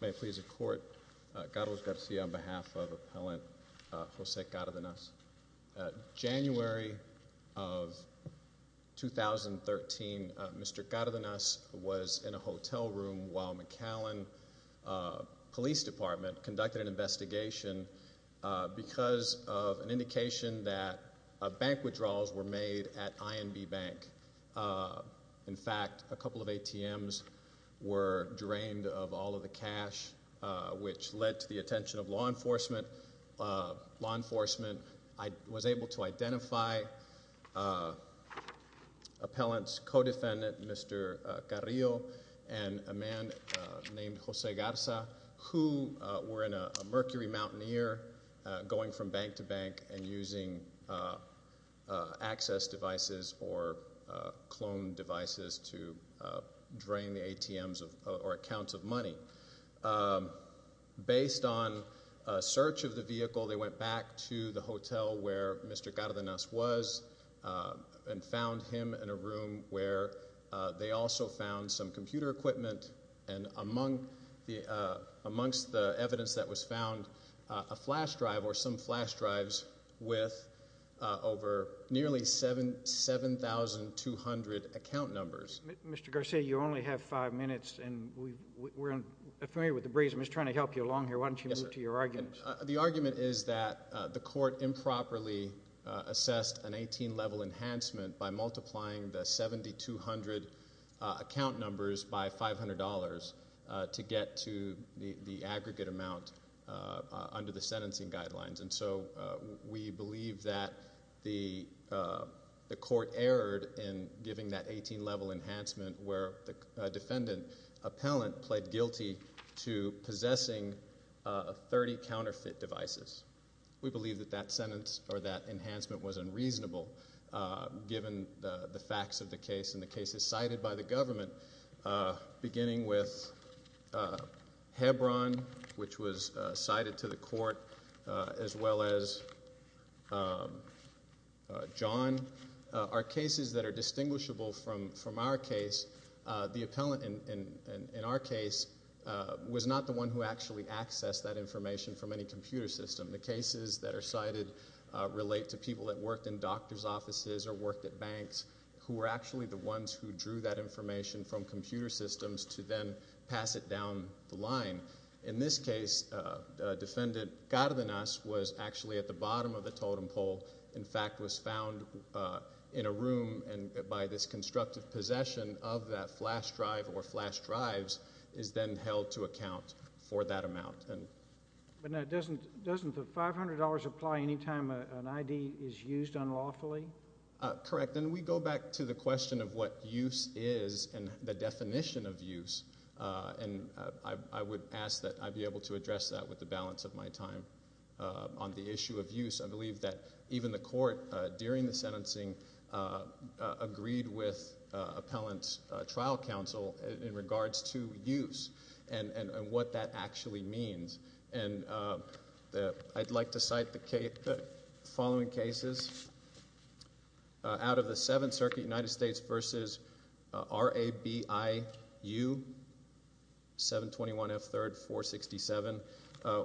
May it please the court, Carlos Garcia on behalf of appellant Jose Cardenas. January of 2013, Mr. Cardenas was in a hotel room while McAllen Police Department conducted an investigation because of an indication that bank withdrawals were made at INB Bank. In fact, a couple of ATMs were drained of all of the cash, which led to the attention of law enforcement. Law enforcement was able to identify appellant's co-defendant, Mr. Carrillo, and a man named Jose Garza who were in a Mercury Mountaineer going from bank to bank and using access devices or clone devices to drain the ATMs or accounts of money. Based on search of the vehicle, they went back to the hotel where Mr. Cardenas was and found him in a room where they also found some computer equipment and amongst the evidence that was found, a flash drive or some flash drives with over nearly 7,200 account numbers. Mr. Garcia, you only have five minutes and we're unfamiliar with the breeze. I'm just trying to help you along here. Why don't you move to your argument? The argument is that the court improperly assessed an 18-level enhancement by multiplying the 7,200 account numbers by $500 to get to the aggregate amount under the sentencing guidelines. We believe that the court erred in giving that 18-level enhancement where the defendant appellant pled guilty to possessing 30 counterfeit devices. We believe that that sentence or that enhancement was unreasonable given the facts of the case and the cases cited by the government, beginning with Hebron, which was cited to the court, as well as John, are cases that are distinguishable from our case. The appellant in our case was not the one who actually accessed that information from any computer system. The cases that are cited relate to people that worked in doctor's offices or worked at banks who were actually the ones who drew that information from computer systems to then pass it down the line. In this case, defendant Cardenas was actually at the bottom of the totem pole, in fact, was found in a room and by this constructive possession of that flash drive or flash drives is then held to account for that amount. But now, doesn't the $500 apply any time an ID is used unlawfully? Correct. And we go back to the question of what use is and the definition of use, and I would ask that I be able to address that with the balance of my time. On the issue of use, I believe that even the court, during the sentencing, agreed with appellant's trial counsel in regards to use and what that actually means. And I'd like to cite the following cases out of the Seventh Circuit, United States v. R.A.B.I.U. 721 F. 3rd 467,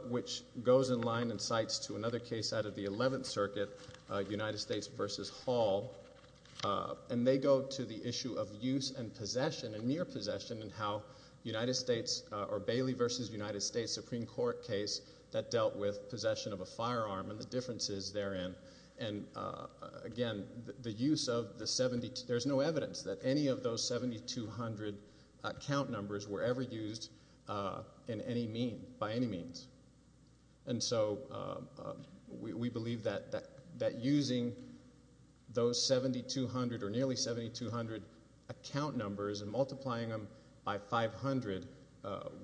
which goes in line and cites to another case out of the Eleventh Circuit, United States v. Hall, and they go to the issue of use and possession and near possession and how United States or Bailey v. United States Supreme Court case that dealt with possession of a flash drive. And again, the use of the 70, there's no evidence that any of those 7,200 account numbers were ever used in any mean, by any means. And so we believe that using those 7,200 or nearly 7,200 account numbers and multiplying them by 500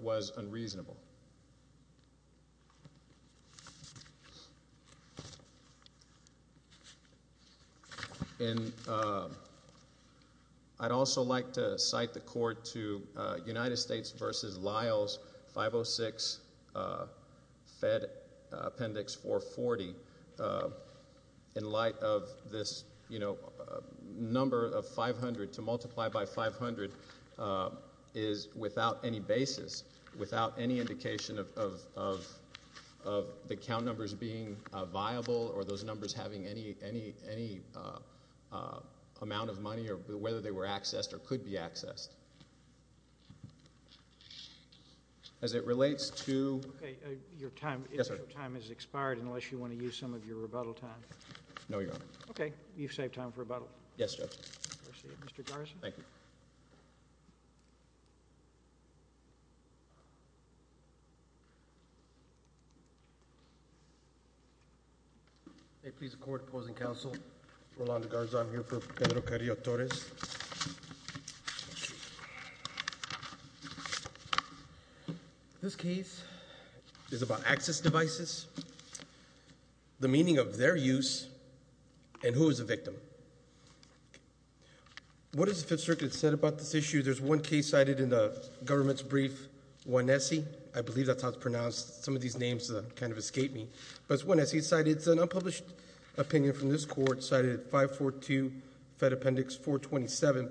was unreasonable. And I'd also like to cite the court to United States v. Lyles 506 Fed Appendix 440. In light of this, you know, number of 500 to multiply by 500 is without any basis, without any indication of, of, of the account numbers being viable or those numbers having any, any, any amount of money or whether they were accessed or could be accessed. As it relates to... Okay. Your time, your time has expired unless you want to use some of your rebuttal time. No, Your Honor. Okay. You've saved time for rebuttal. Yes, Judge. Appreciate it, Mr. Garza. Thank you. May it please the court, opposing counsel, Rolando Garza, I'm here for Pedro Carrillo-Torres. This case is about access devices, the meaning of their use and who is the victim. What has the Fifth Circuit said about this issue? There's one case cited in the government's brief, Juanese. I believe that's how it's pronounced. Some of these names kind of escaped me. But it's Juanese cited. It's an unpublished opinion from this court cited 542 Fed Appendix 427.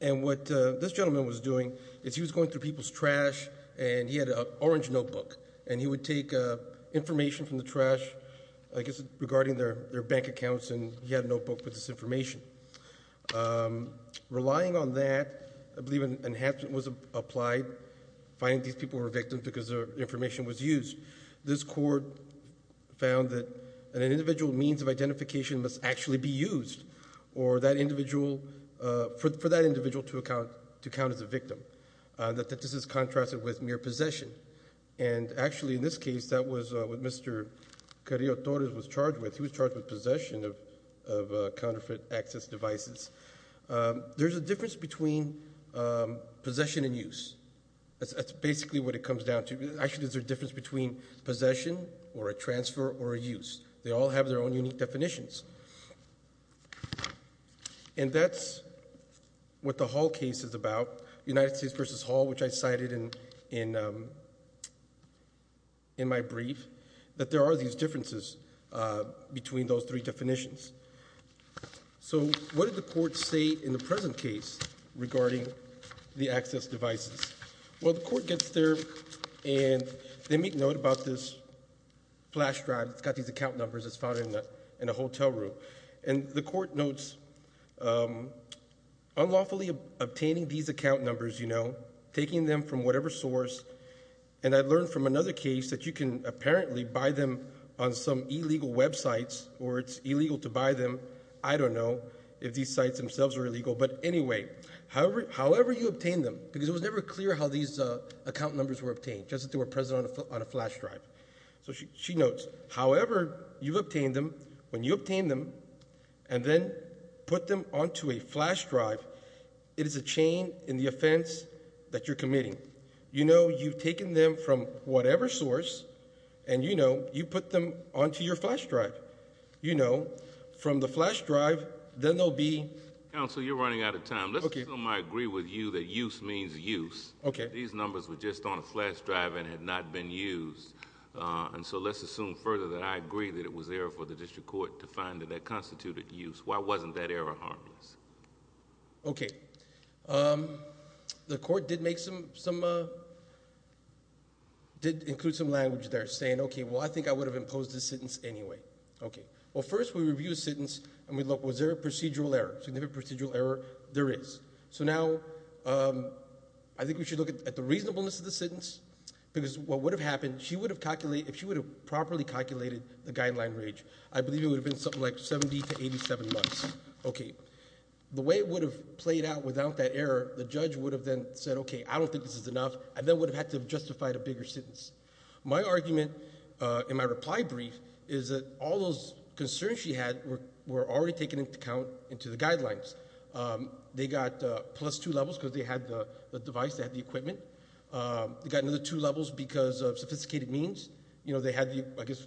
And what this gentleman was doing is he was going through people's trash and he had an orange notebook and he would take information from the trash, I guess, regarding their bank accounts and he had a notebook with this information. Relying on that, I believe an enhancement was applied, finding these people were victims because their information was used. This court found that an individual means of identification must actually be used for that individual to count as a victim. This is contrasted with who's charged with possession of counterfeit access devices. There's a difference between possession and use. That's basically what it comes down to. Actually, there's a difference between possession or a transfer or a use. They all have their own unique definitions. And that's what the Hall case is about, United States v. Hall, which I cited in my brief, that there are these differences between those three definitions. So what did the court say in the present case regarding the access devices? Well, the court gets there and they make note about this flash drive that's got these account numbers. It's found in a hotel room. And the court notes, unlawfully obtaining these account numbers, taking them from whatever source. And I learned from another case that you can apparently buy them on some illegal websites or it's illegal to buy them. I don't know if these sites themselves are illegal. But anyway, however you obtain them, because it was never clear how these account numbers were obtained, just that they were present on a flash drive. So she notes, however you've obtained them, when you obtain them and then put them onto a flash drive, it is a chain in the offense that you're committing. You know, you've taken them from whatever source and you know, you put them onto your flash drive. You know, from the flash drive, then they'll be... Counsel, you're running out of time. Let's assume I agree with you that use means use. Okay. These numbers were just on a flash drive and had not been used. And so let's assume further that I agree that it was there for the district court to find that that constituted use. Why wasn't that error harmless? Okay. The court did include some language there saying, okay, well, I think I would have imposed the sentence anyway. Okay. Well, first we review the sentence and we look, was there a procedural error? Significant procedural error, there is. So now I think we should look at the reasonableness of the sentence because what would have happened, she would have calculated, if she would have properly calculated the guideline range, I believe it would have been something like 70 to 87 months. Okay. The way it would have played out without that error, the judge would have then said, okay, I don't think this is enough. I then would have had to have justified a bigger sentence. My argument in my reply brief is that all those concerns she had were already taken into account into the guidelines. They got plus two levels because they had the device, they had the equipment. They got another two levels because of sophisticated means. I guess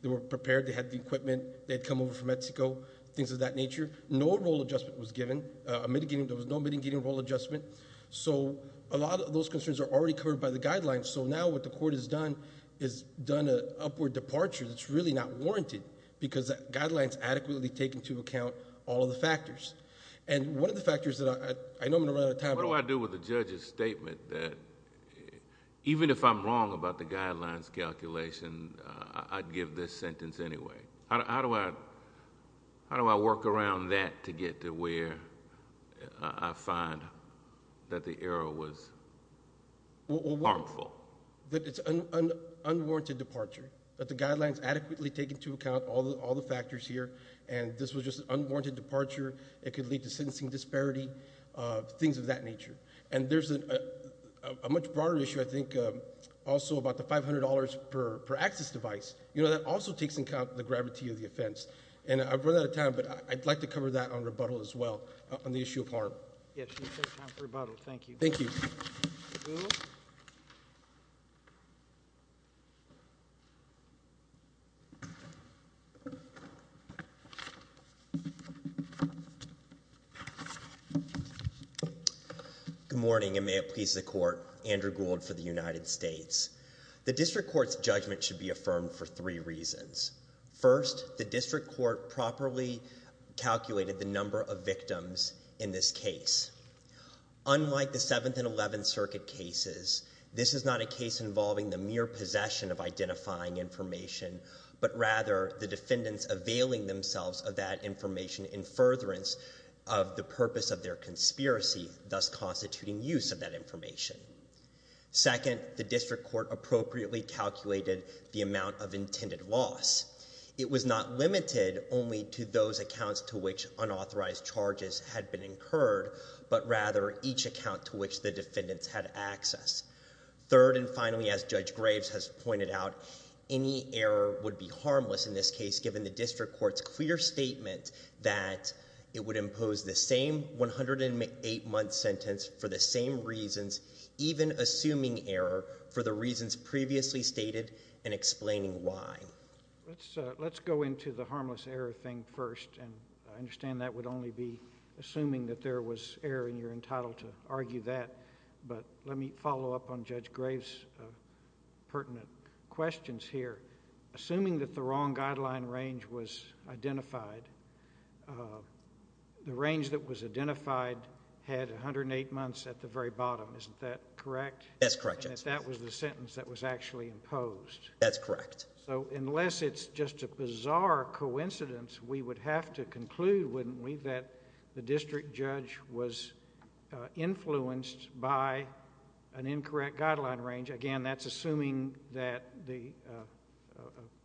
they were prepared, they had the equipment, they had come over from Mexico, things of that nature. No role adjustment was given. There was no mitigating role adjustment. So a lot of those concerns are already covered by the guidelines. So now what the court has done is done an upward departure that's really not warranted because the guidelines adequately take into account all of the factors. And one of the factors that I know I'm going to run out of time. What do I do with the judge's statement that even if I'm wrong about the guidelines calculation, I'd give this sentence anyway. How do I work around that to get to where I find that the error was harmful? That it's unwarranted departure. That the guidelines adequately take into account all the factors here and this was just unwarranted departure. It could lead to and there's a much broader issue I think also about the $500 per access device. That also takes into account the gravity of the offense. And I've run out of time but I'd like to cover that on rebuttal as well on the issue of harm. Yes, you should have time for rebuttal. Thank you. Thank you. Good morning and may it please the court. Andrew Gould for the United States. The district court's judgment should be affirmed for three reasons. First, the district court properly calculated the number of victims in this case. Unlike the 7th and 11th circuit cases, this is not a case involving the mere possession of identifying information but rather the defendants availing themselves of that information in furtherance of the purpose of their conspiracy thus constituting use of that information. Second, the district court appropriately calculated the amount of intended loss. It was not limited only to those accounts to which unauthorized charges had been incurred but rather each account to which the defendants had access. Third and finally as Judge Graves has pointed out, any error would be harmless in this case given the district court's clear statement that it would impose the same 108-month sentence for the same reasons even assuming error for the reasons previously stated and explaining why. Let's go into the harmless error thing first and I understand that would only be assuming that there was error and you're entitled to argue that but let me follow up on Judge Graves' pertinent questions here. Assuming that the wrong guideline range was identified, the range that was identified had 108 months at the very bottom, isn't that correct? That's correct, Judge. And if that was the sentence that was actually imposed? That's correct. So unless it's just a bizarre coincidence, we would have to conclude, wouldn't we, that the district judge was influenced by an incorrect guideline range? Again, that's assuming that the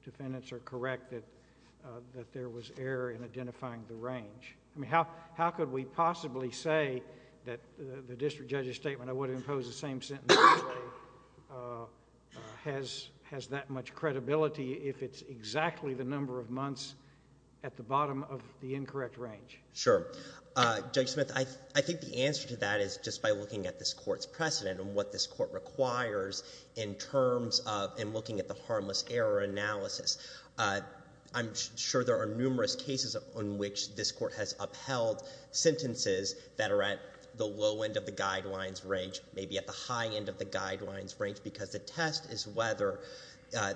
defendants are correct that there was error in identifying the range. I mean, how could we possibly say that the district judge's statement, I would impose the same sentence, has that much credibility if it's exactly the number of months at the bottom of the incorrect range? Sure. Judge Smith, I think the answer to that is just by looking at this court's precedent and what this court requires in terms of and looking at the harmless error analysis. I'm sure there are numerous cases on which this court has upheld sentences that are at the low end of the guidelines range, maybe at the high end of the guidelines range, because the test is whether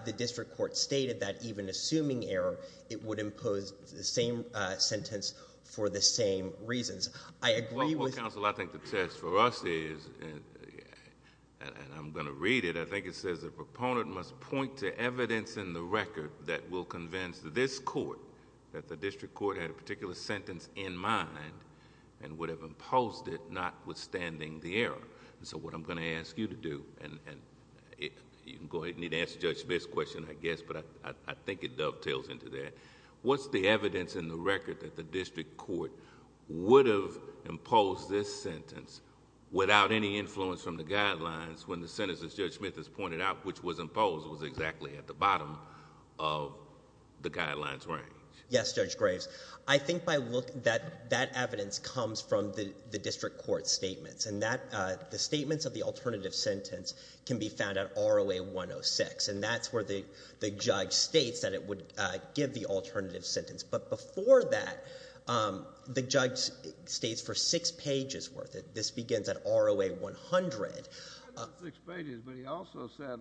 the district court stated that even assuming error, it would impose the same sentence for the same reasons. I agree with... Well, counsel, I think the test for us is, and I'm going to read it, I think it says the proponent must point to evidence in the record that will convince this court that the district court had a particular sentence in mind and would have imposed it notwithstanding the error. So what I'm going to ask you to do, and you can go ahead and ask Judge Smith's question, but I think it dovetails into that. What's the evidence in the record that the district court would have imposed this sentence without any influence from the guidelines when the sentence as Judge Smith has pointed out, which was imposed, was exactly at the bottom of the guidelines range? Yes, Judge Graves. I think by looking... that evidence comes from the district court's statements. The statements of the alternative sentence can be found at ROA 106, and that's where the judge states that it would give the alternative sentence. But before that, the judge states for six pages worth it. This begins at ROA 100. Not just six pages, but he also said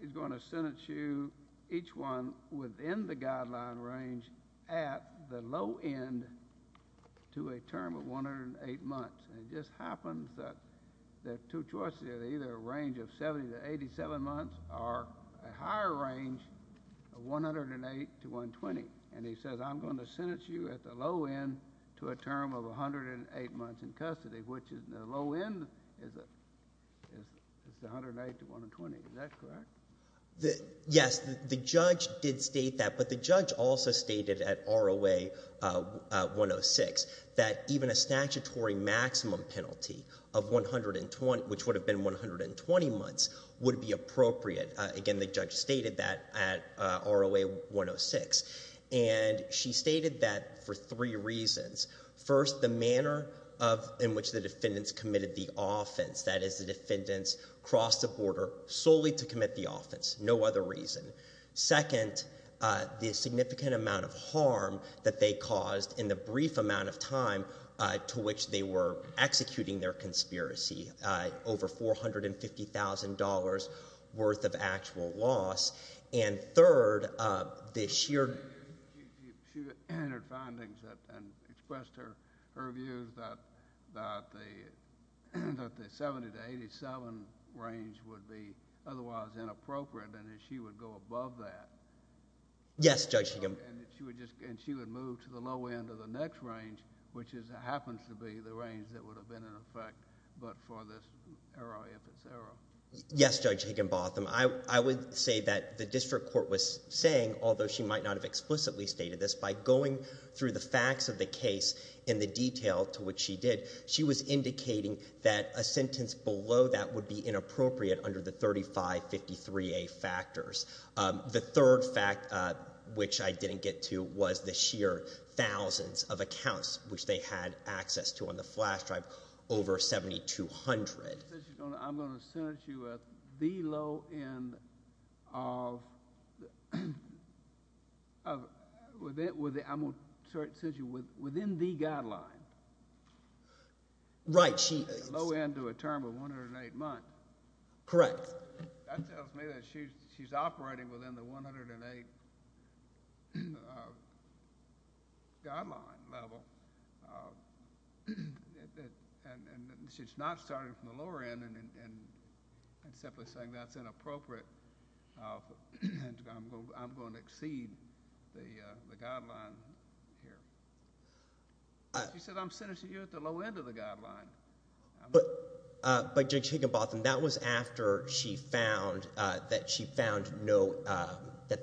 he's going to sentence you, each one, within the guideline range at the low end to a term of 108 months. And it just happens that the two choices are either a higher range of 108 to 120, and he says I'm going to sentence you at the low end to a term of 108 months in custody, which is the low end is 108 to 120. Is that correct? Yes, the judge did state that, but the judge also stated at ROA 106 that even a statutory maximum penalty of 120, which would have been 120 months, would be appropriate. Again, the judge stated that at ROA 106. And she stated that for three reasons. First, the manner in which the defendants committed the offense, that is the defendants crossed the border solely to commit the offense, no other reason. Second, the significant amount of harm that they caused in the brief amount of time to which they were executing their conspiracy, over $450,000 worth of actual loss. And third, the sheer... She entered findings and expressed her views that the 70 to 87 range would be otherwise inappropriate and that she would go above that. Yes, Judge. And she would move to the low end of the next range, which happens to be the range that would have been in effect, but for this error, if it's error. Yes, Judge Higginbotham. I would say that the district court was saying, although she might not have explicitly stated this, by going through the facts of the case in the detail to which she did, she was indicating that a sentence below that would be inappropriate under the 3553A factors. The third fact, which I didn't get to, was the sheer thousands of accounts, which they had access to on the flash drive, over $7,200. I'm going to sentence you within the guideline. Right. The low end to a term of 108 months. Correct. That tells me that she's operating within the 108 guideline level, and she's not starting from the lower end and simply saying that's inappropriate and I'm going to exceed the guideline here. She said, I'm sentencing you at the low end of the guideline. But, Judge Higginbotham, that was after she found that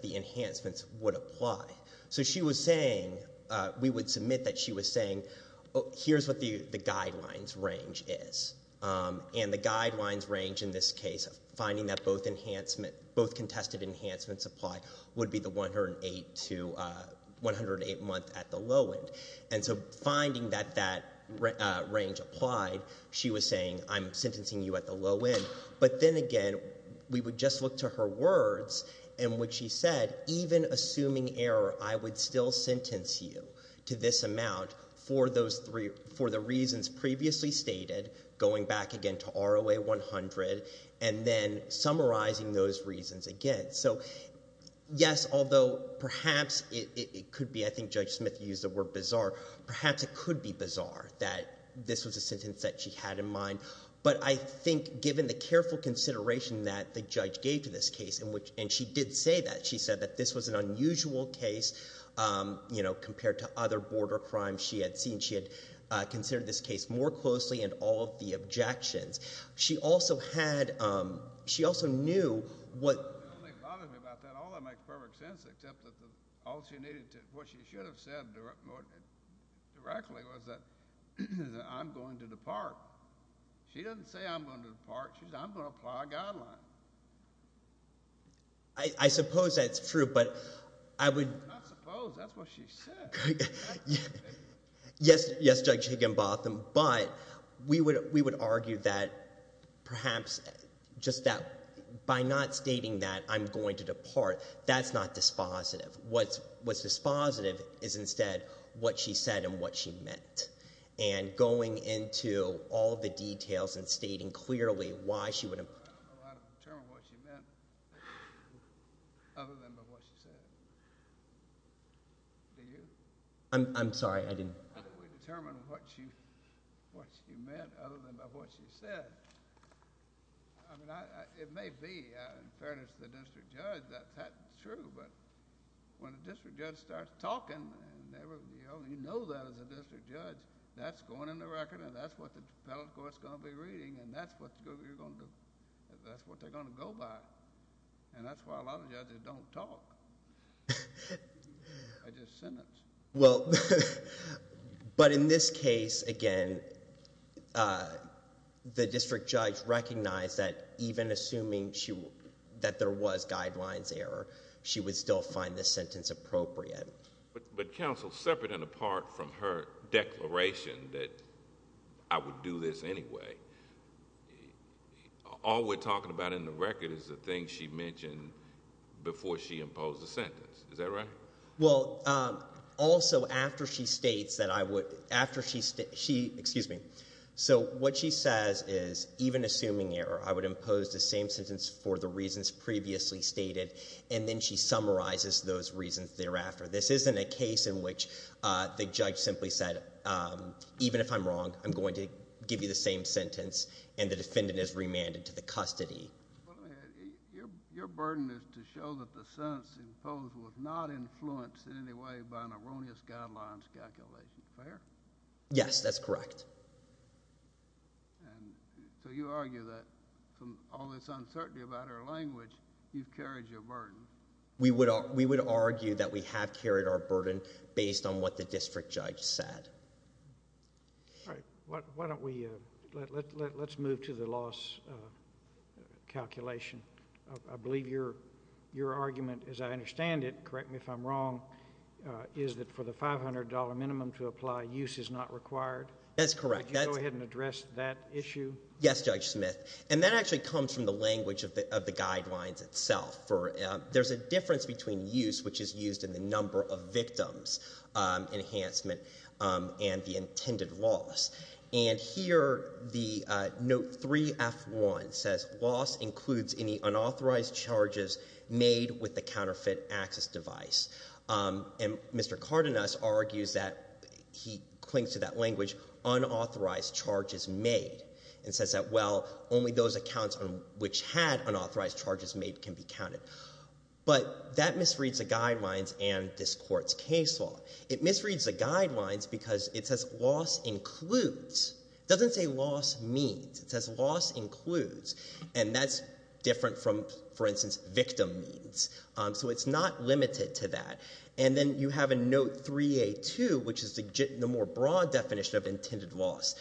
the enhancements would apply. So she was saying, we would submit that she was saying, here's what the guidelines range is, and the guidelines range in this case, finding that both contested enhancements apply, would be the 108 month at the low end. And so finding that that range applied, she was saying, I'm sentencing you at the low end. But then again, we would just look to her words, and what she said, even assuming error, I would still sentence you to this amount for the reasons previously stated, going back again to ROA 100, and then summarizing those reasons again. So yes, although perhaps it could be, I think Judge Smith used the word bizarre, perhaps it could be bizarre that this was a sentence that she had in mind. But I think given the careful consideration that the judge gave to this case, and she did say that. She said that this was an unusual case compared to other border crimes she had seen. She had considered this case more closely and all of the objections. She also had, she also knew what. I don't think she bothered me about that. All that makes perfect sense, except that all she needed to, what she should have said directly was that I'm going to depart. She doesn't say I'm going to depart. She says I'm going to apply a guideline. I suppose that's true, but I would. I suppose that's what she said. Yes, Judge Higginbotham, but we would argue that perhaps just that by not stating that I'm going to depart, that's not dispositive. What's dispositive is instead what she said and what she meant. And going into all the details and stating clearly why she would. I don't know how to determine what she meant other than by what she said. Do you? I'm sorry, I didn't. How do we determine what she meant other than by what she said? I mean, it may be, in fairness to the district judge, that that's true, but when a district judge starts talking, and you only know that as a district judge, that's going in the record, and that's what the appellate court's going to be reading, and that's what they're going to go by. And that's why a lot of judges don't talk. They just sentence. But in this case, again, the district judge recognized that even assuming that there was guidelines error, she would still find this sentence appropriate. But counsel, separate and apart from her declaration that I would do this anyway, all we're talking about in the record is the thing she mentioned before she imposed the sentence. Is that right? Well, also, after she states that I would... after she... excuse me. So what she says is, even assuming error, I would impose the same sentence for the reasons previously stated, and then she summarizes those reasons thereafter. This isn't a case in which the judge simply said, even if I'm wrong, I'm going to give you the same sentence, and the defendant is remanded to the custody. Well, let me ask you, your burden is to show that the sentence imposed was not influenced in any way by an erroneous guidelines calculation. Fair? Yes, that's correct. And so you argue that from all this uncertainty about her language, you've carried your burden. We would argue that we have carried our burden based on what the district judge said. All right. Why don't we... let's move to the loss calculation. I believe your argument, as I understand it, correct me if I'm wrong, is that for the $500 minimum to apply, use is not required? That's correct. Could you go ahead and address that issue? Yes, Judge Smith. And that actually comes from the language of the guidelines itself. There's a difference between use, which is used in the number of victims enhancement, and the intended loss. And here, the note 3F1 says, loss includes any unauthorized charges made with the counterfeit access device. And Mr. Cardenas argues that he clings to that language, unauthorized charges made, and says that, well, only those accounts which had unauthorized charges made can be counted. But that misreads the guidelines and this court's case law. It misreads the guidelines because it says loss includes. It doesn't say loss means. It says loss includes. And that's different from, for instance, victim means. So it's not limited to that. And then you have a note 3A2, which is the more broad definition of intended loss.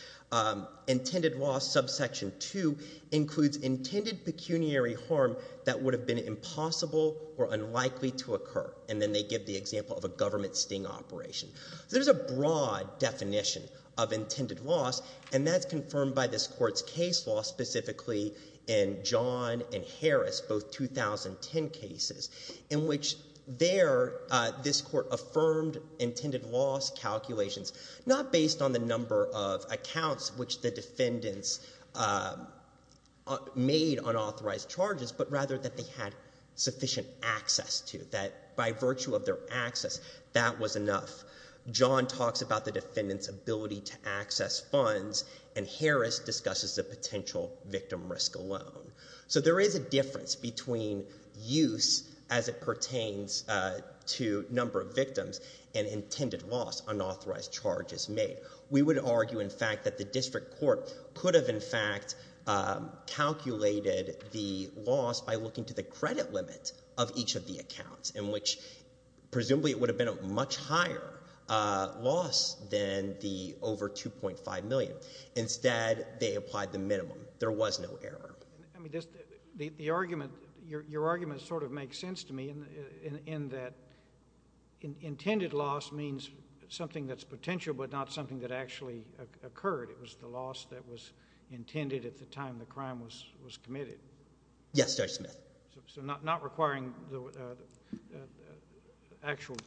Intended loss subsection 2 includes intended pecuniary harm that would have been impossible or unlikely to occur. And then they give the example of a government sting operation. There's a broad definition of intended loss, and that's confirmed by this court's case law, specifically in John and Harris, both 2010 cases, in which there, this court affirmed intended loss calculations not based on the number of accounts which the defendants made unauthorized charges, but rather that they had sufficient access to, that by virtue of their access, that was enough. John talks about the defendant's ability to access funds, and Harris discusses the potential victim risk alone. So there is a difference between use as it pertains to number of victims and intended loss, unauthorized charges made. We would argue, in fact, that the district court could have, in fact, calculated the loss by looking to the credit limit of each of the accounts, in which presumably it would have been a much higher loss than the over $2.5 million. Instead, they applied the minimum. There was no error. I mean, the argument, your argument sort of makes sense to me in that intended loss means something that's potential but not something that actually occurred. It was the loss that was intended at the time the crime was committed. Yes, Judge Smith. So not requiring the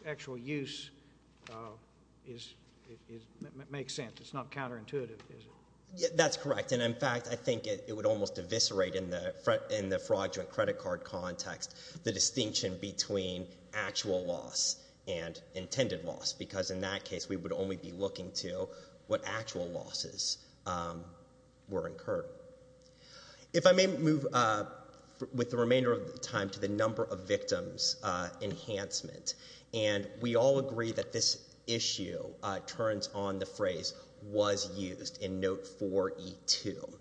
actual use makes sense. It's not counterintuitive, is it? That's correct. And, in fact, I think it would almost eviscerate in the fraudulent credit card context the in that case we would only be looking to what actual losses were incurred. If I may move with the remainder of the time to the number of victims enhancement. And we all agree that this issue turns on the phrase was used in note 4E2.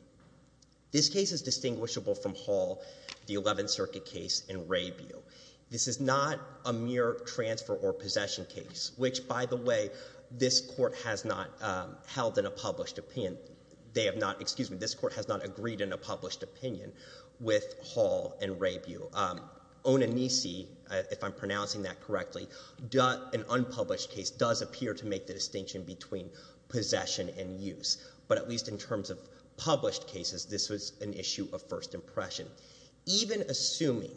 This case is distinguishable from Hall, the 11th Circuit case, and Raybill. This is not a mere transfer or possession case. Which, by the way, this court has not held in a published opinion. They have not, excuse me, this court has not agreed in a published opinion with Hall and Raybill. Onanisi, if I'm pronouncing that correctly, an unpublished case does appear to make the distinction between possession and use. But at least in terms of published cases, this was an issue of first impression. Even assuming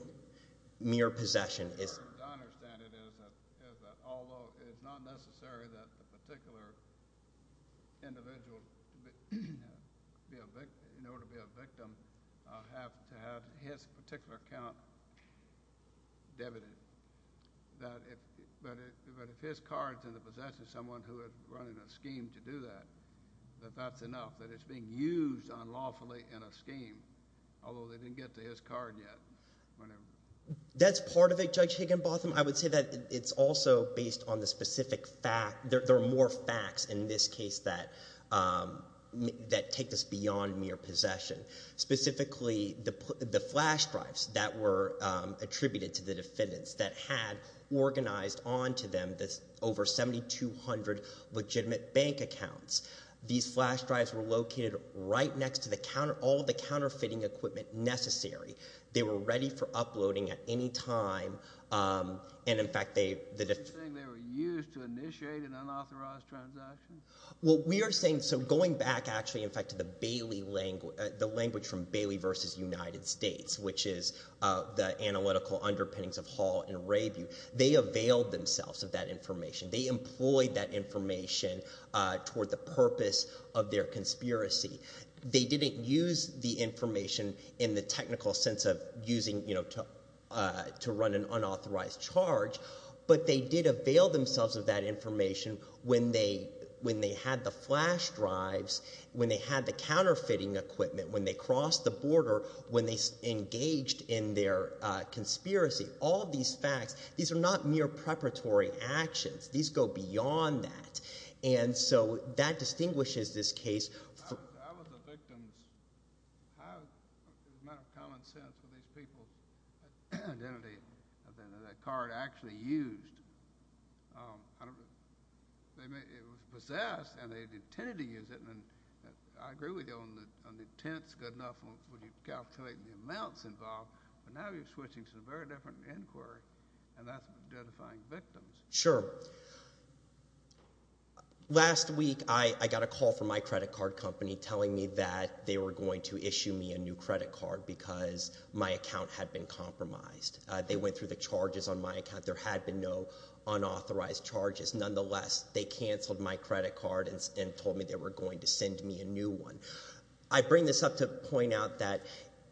mere possession is. As far as I understand it, is that although it's not necessary that a particular individual, in order to be a victim, have to have his particular account debited. That if, but if his card's in the possession of someone who had run a scheme to do that, that that's enough. That it's being used unlawfully in a scheme. Although they didn't get to his card yet. That's part of it, Judge Higginbotham. I would say that it's also based on the specific fact, there are more facts in this case that take this beyond mere possession. Specifically, the flash drives that were attributed to the defendants that had organized onto them this over 7,200 legitimate bank accounts. These flash drives were located right next to the counter, all of the counterfeiting equipment necessary. They were ready for uploading at any time. And in fact, they. You're saying they were used to initiate an unauthorized transaction? Well, we are saying, so going back actually, in fact, to the Bailey language, the language from Bailey versus United States, which is the analytical underpinnings of Hall and Rebu. They availed themselves of that information. They employed that information toward the purpose of their conspiracy. They didn't use the information in the technical sense of using, you know, to run an unauthorized charge, but they did avail themselves of that information when they had the flash drives, when they had the counterfeiting equipment, when they crossed the border, when they engaged in their conspiracy. All of these facts, these are not mere preparatory actions. These go beyond that. And so that distinguishes this case. I was a victim. It was a matter of common sense for these people, that identity, that card actually used. It was possessed, and they intended to use it, and I agree with you on the intent is good enough when you calculate the amounts involved, but now you're switching to a very different inquiry, and that's identifying victims. Sure. Last week, I got a call from my credit card company telling me that they were going to issue me a new credit card because my account had been compromised. They went through the charges on my account. There had been no unauthorized charges. Nonetheless, they canceled my credit card and told me they were going to send me a new one. I bring this up to point out that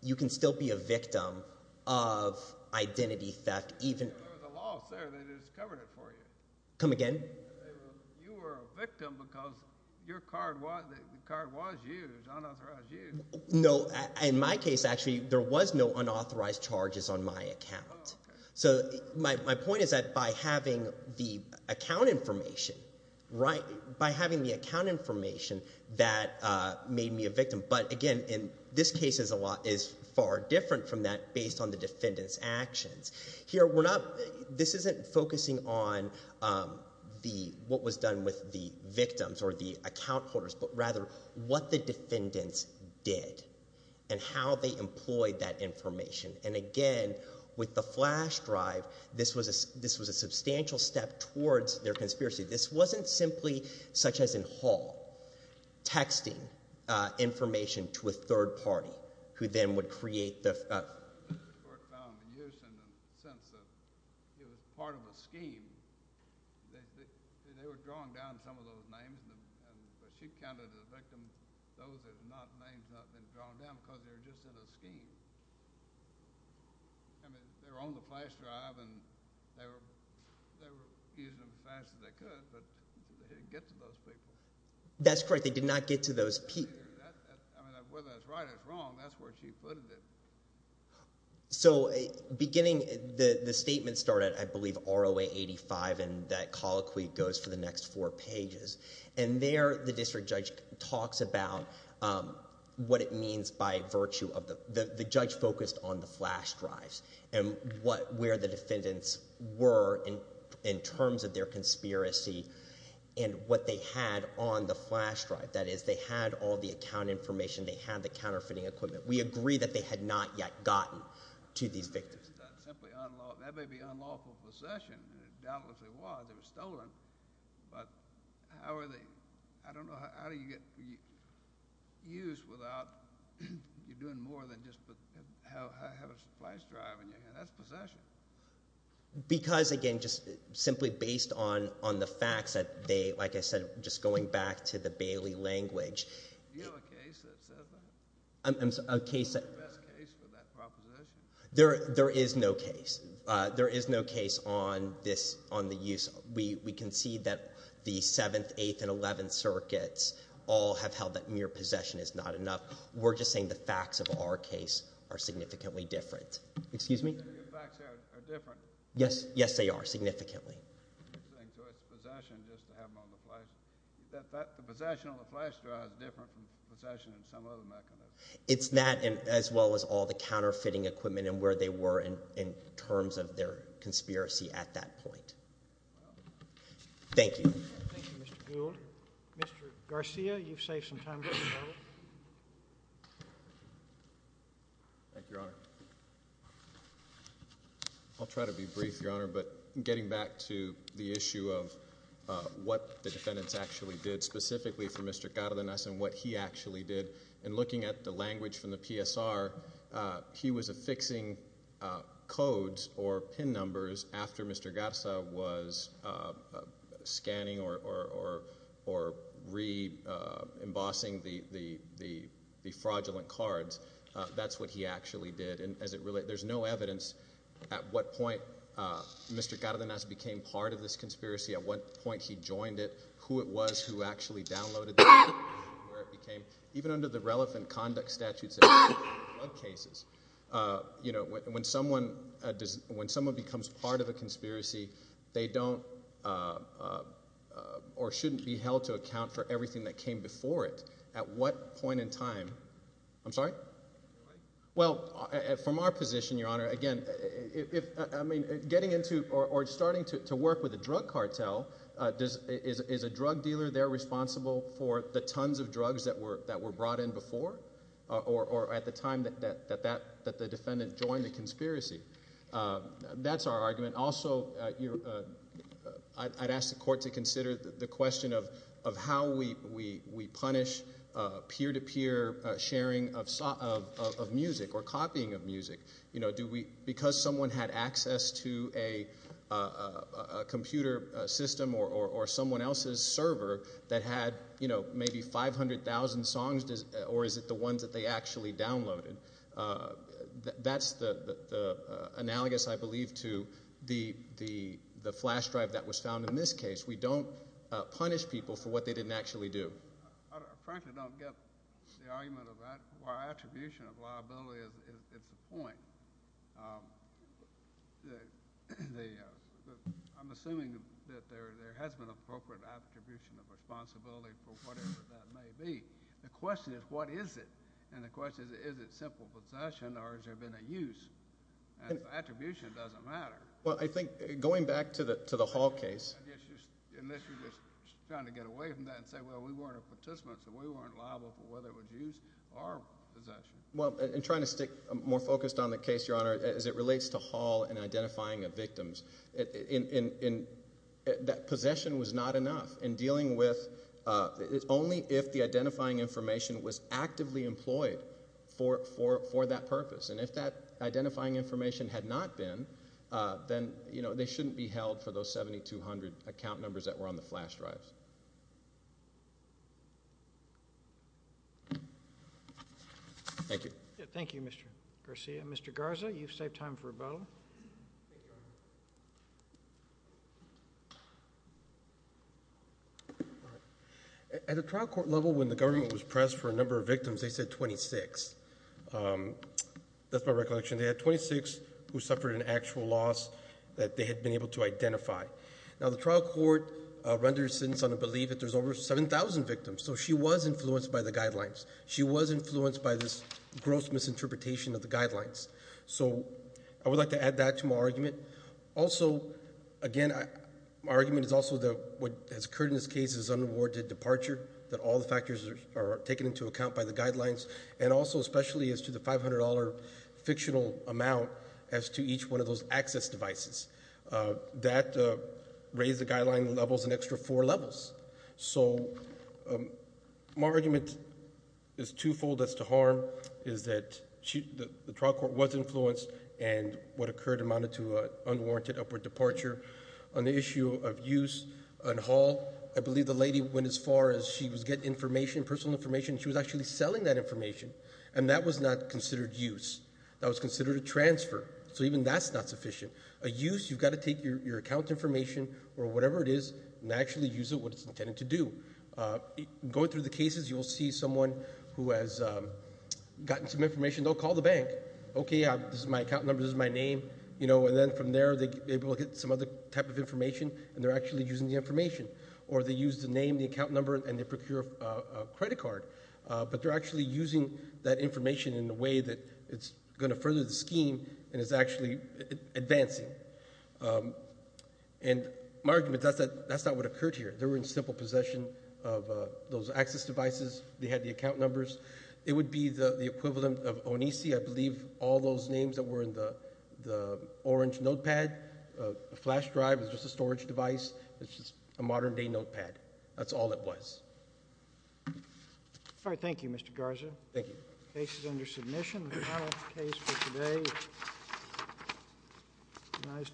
you can still be a victim of identity theft even— There was a loss there. They just covered it for you. Come again? You were a victim because your card was used, unauthorized use. No. In my case, actually, there was no unauthorized charges on my account. So my point is that by having the account information, right, by having the account information, that made me a victim. But again, in this case, a lot is far different from that based on the defendant's actions. Here, we're not—this isn't focusing on what was done with the victims or the account holders, but rather what the defendants did and how they employed that information. And again, with the flash drive, this was a substantial step towards their conspiracy. This wasn't simply, such as in Hall, texting information to a third party who then would create the— Worked on the use in the sense that it was part of a scheme. They were drawing down some of those names, but she counted as a victim those that had not—names not been drawn down because they were just in a scheme. I mean, they were on the flash drive, and they were using them as fast as they could, but they didn't get to those people. That's correct. They did not get to those people. I mean, whether that's right or wrong, that's where she put it. So, beginning—the statement started, I believe, ROA 85, and that colloquy goes for the next four pages. And there, the district judge talks about what it means by virtue of the—the judge focused on the flash drives and what—where the defendants were in terms of their conspiracy and what they had on the flash drive. That is, they had all the account information. They had the counterfeiting equipment. We agree that they had not yet gotten to these victims. It's not simply unlawful. That may be unlawful possession. It doubtlessly was. It was stolen. But how are they—I don't know, how do you get—used without—you're doing more than just have a flash drive in your hand. That's possession. Because, again, just simply based on the facts that they—like I said, just going back to the Bailey language— Do you have a case that says that? I'm sorry, a case that— Is there a case for that proposition? There is no case. There is no case on this—on the use. We concede that the Seventh, Eighth, and Eleventh Circuits all have held that mere possession is not enough. We're just saying the facts of our case are significantly different. Excuse me? So your facts are different? Yes. Yes, they are, significantly. So it's possession just to have them on the flash—the possession on the flash drive is different from possession in some other mechanism? It's that, as well as all the counterfeiting equipment and where they were in terms of their conspiracy at that point. Thank you. Thank you, Mr. Gould. Mr. Garcia, you've saved some time. Thank you, Your Honor. I'll try to be brief, Your Honor, but getting back to the issue of what the defendants actually did specifically for Mr. Cárdenas and what he actually did, and looking at the language from the PSR, he was affixing codes or PIN numbers after Mr. Garza was scanning or re-embossing the fraudulent cards. That's what he actually did. And as it relates—there's no evidence at what point Mr. Cárdenas became part of this actually downloaded the information, where it became—even under the relevant conduct statutes of cases, when someone becomes part of a conspiracy, they don't or shouldn't be held to account for everything that came before it. At what point in time—I'm sorry? Well, from our position, Your Honor, again, if—I mean, getting into or starting to work with a drug cartel, is a drug dealer there responsible for the tons of drugs that were brought in before or at the time that the defendant joined the conspiracy? That's our argument. Also, I'd ask the Court to consider the question of how we punish peer-to-peer sharing of music or copying of music. Because someone had access to a computer system or someone else's server that had maybe 500,000 songs, or is it the ones that they actually downloaded? That's the analogous, I believe, to the flash drive that was found in this case. We don't punish people for what they didn't actually do. I frankly don't get the argument about why attribution of liability is the point. I'm assuming that there has been appropriate attribution of responsibility for whatever that may be. The question is, what is it? And the question is, is it simple possession, or has there been a use? And attribution doesn't matter. Well, I think going back to the Hall case— Unless you're just trying to get away from that and say, well, we weren't a participant, so we weren't liable for whether it was use or possession. Well, and trying to stick more focused on the case, Your Honor, as it relates to Hall and identifying of victims. That possession was not enough in dealing with—only if the identifying information was actively employed for that purpose. And if that identifying information had not been, then they shouldn't be held for those 7,200 account numbers that were on the flash drives. Thank you. Thank you, Mr. Garcia. Mr. Garza, you've saved time for rebuttal. At a trial court level, when the government was pressed for a number of victims, they said 26. That's my recollection. They had 26 who suffered an actual loss that they had been able to identify. Now, the trial court renders sentence on the belief that there's over 7,000 victims. So she was influenced by the guidelines. She was influenced by this gross misinterpretation of the guidelines. So I would like to add that to my argument. Also, again, my argument is also that what has occurred in this case is an unrewarded and also especially as to the $500 fictional amount as to each one of those access devices. That raised the guideline levels an extra four levels. So my argument is twofold as to harm is that the trial court was influenced and what occurred amounted to an unwarranted upward departure. On the issue of use and haul, I believe the lady went as far as she was getting information, personal information. She was actually selling that information and that was not considered use. That was considered a transfer. So even that's not sufficient. A use, you've got to take your account information or whatever it is and actually use it what it's intended to do. Going through the cases, you'll see someone who has gotten some information. They'll call the bank. Okay, this is my account number. This is my name. You know, and then from there, they will get some other type of information and they're actually using the information. Or they use the name, the account number and they procure a credit card, but they're actually using that information in a way that it's going to further the scheme and is actually advancing. And my argument is that's not what occurred here. They were in simple possession of those access devices. They had the account numbers. It would be the equivalent of Onisi. I believe all those names that were in the orange notepad, flash drive is just a storage device. It's just a modern day notepad. That's all it was. All right. Thank you, Mr. Garza. Thank you. Case is under submission. The trial case for today is recognized.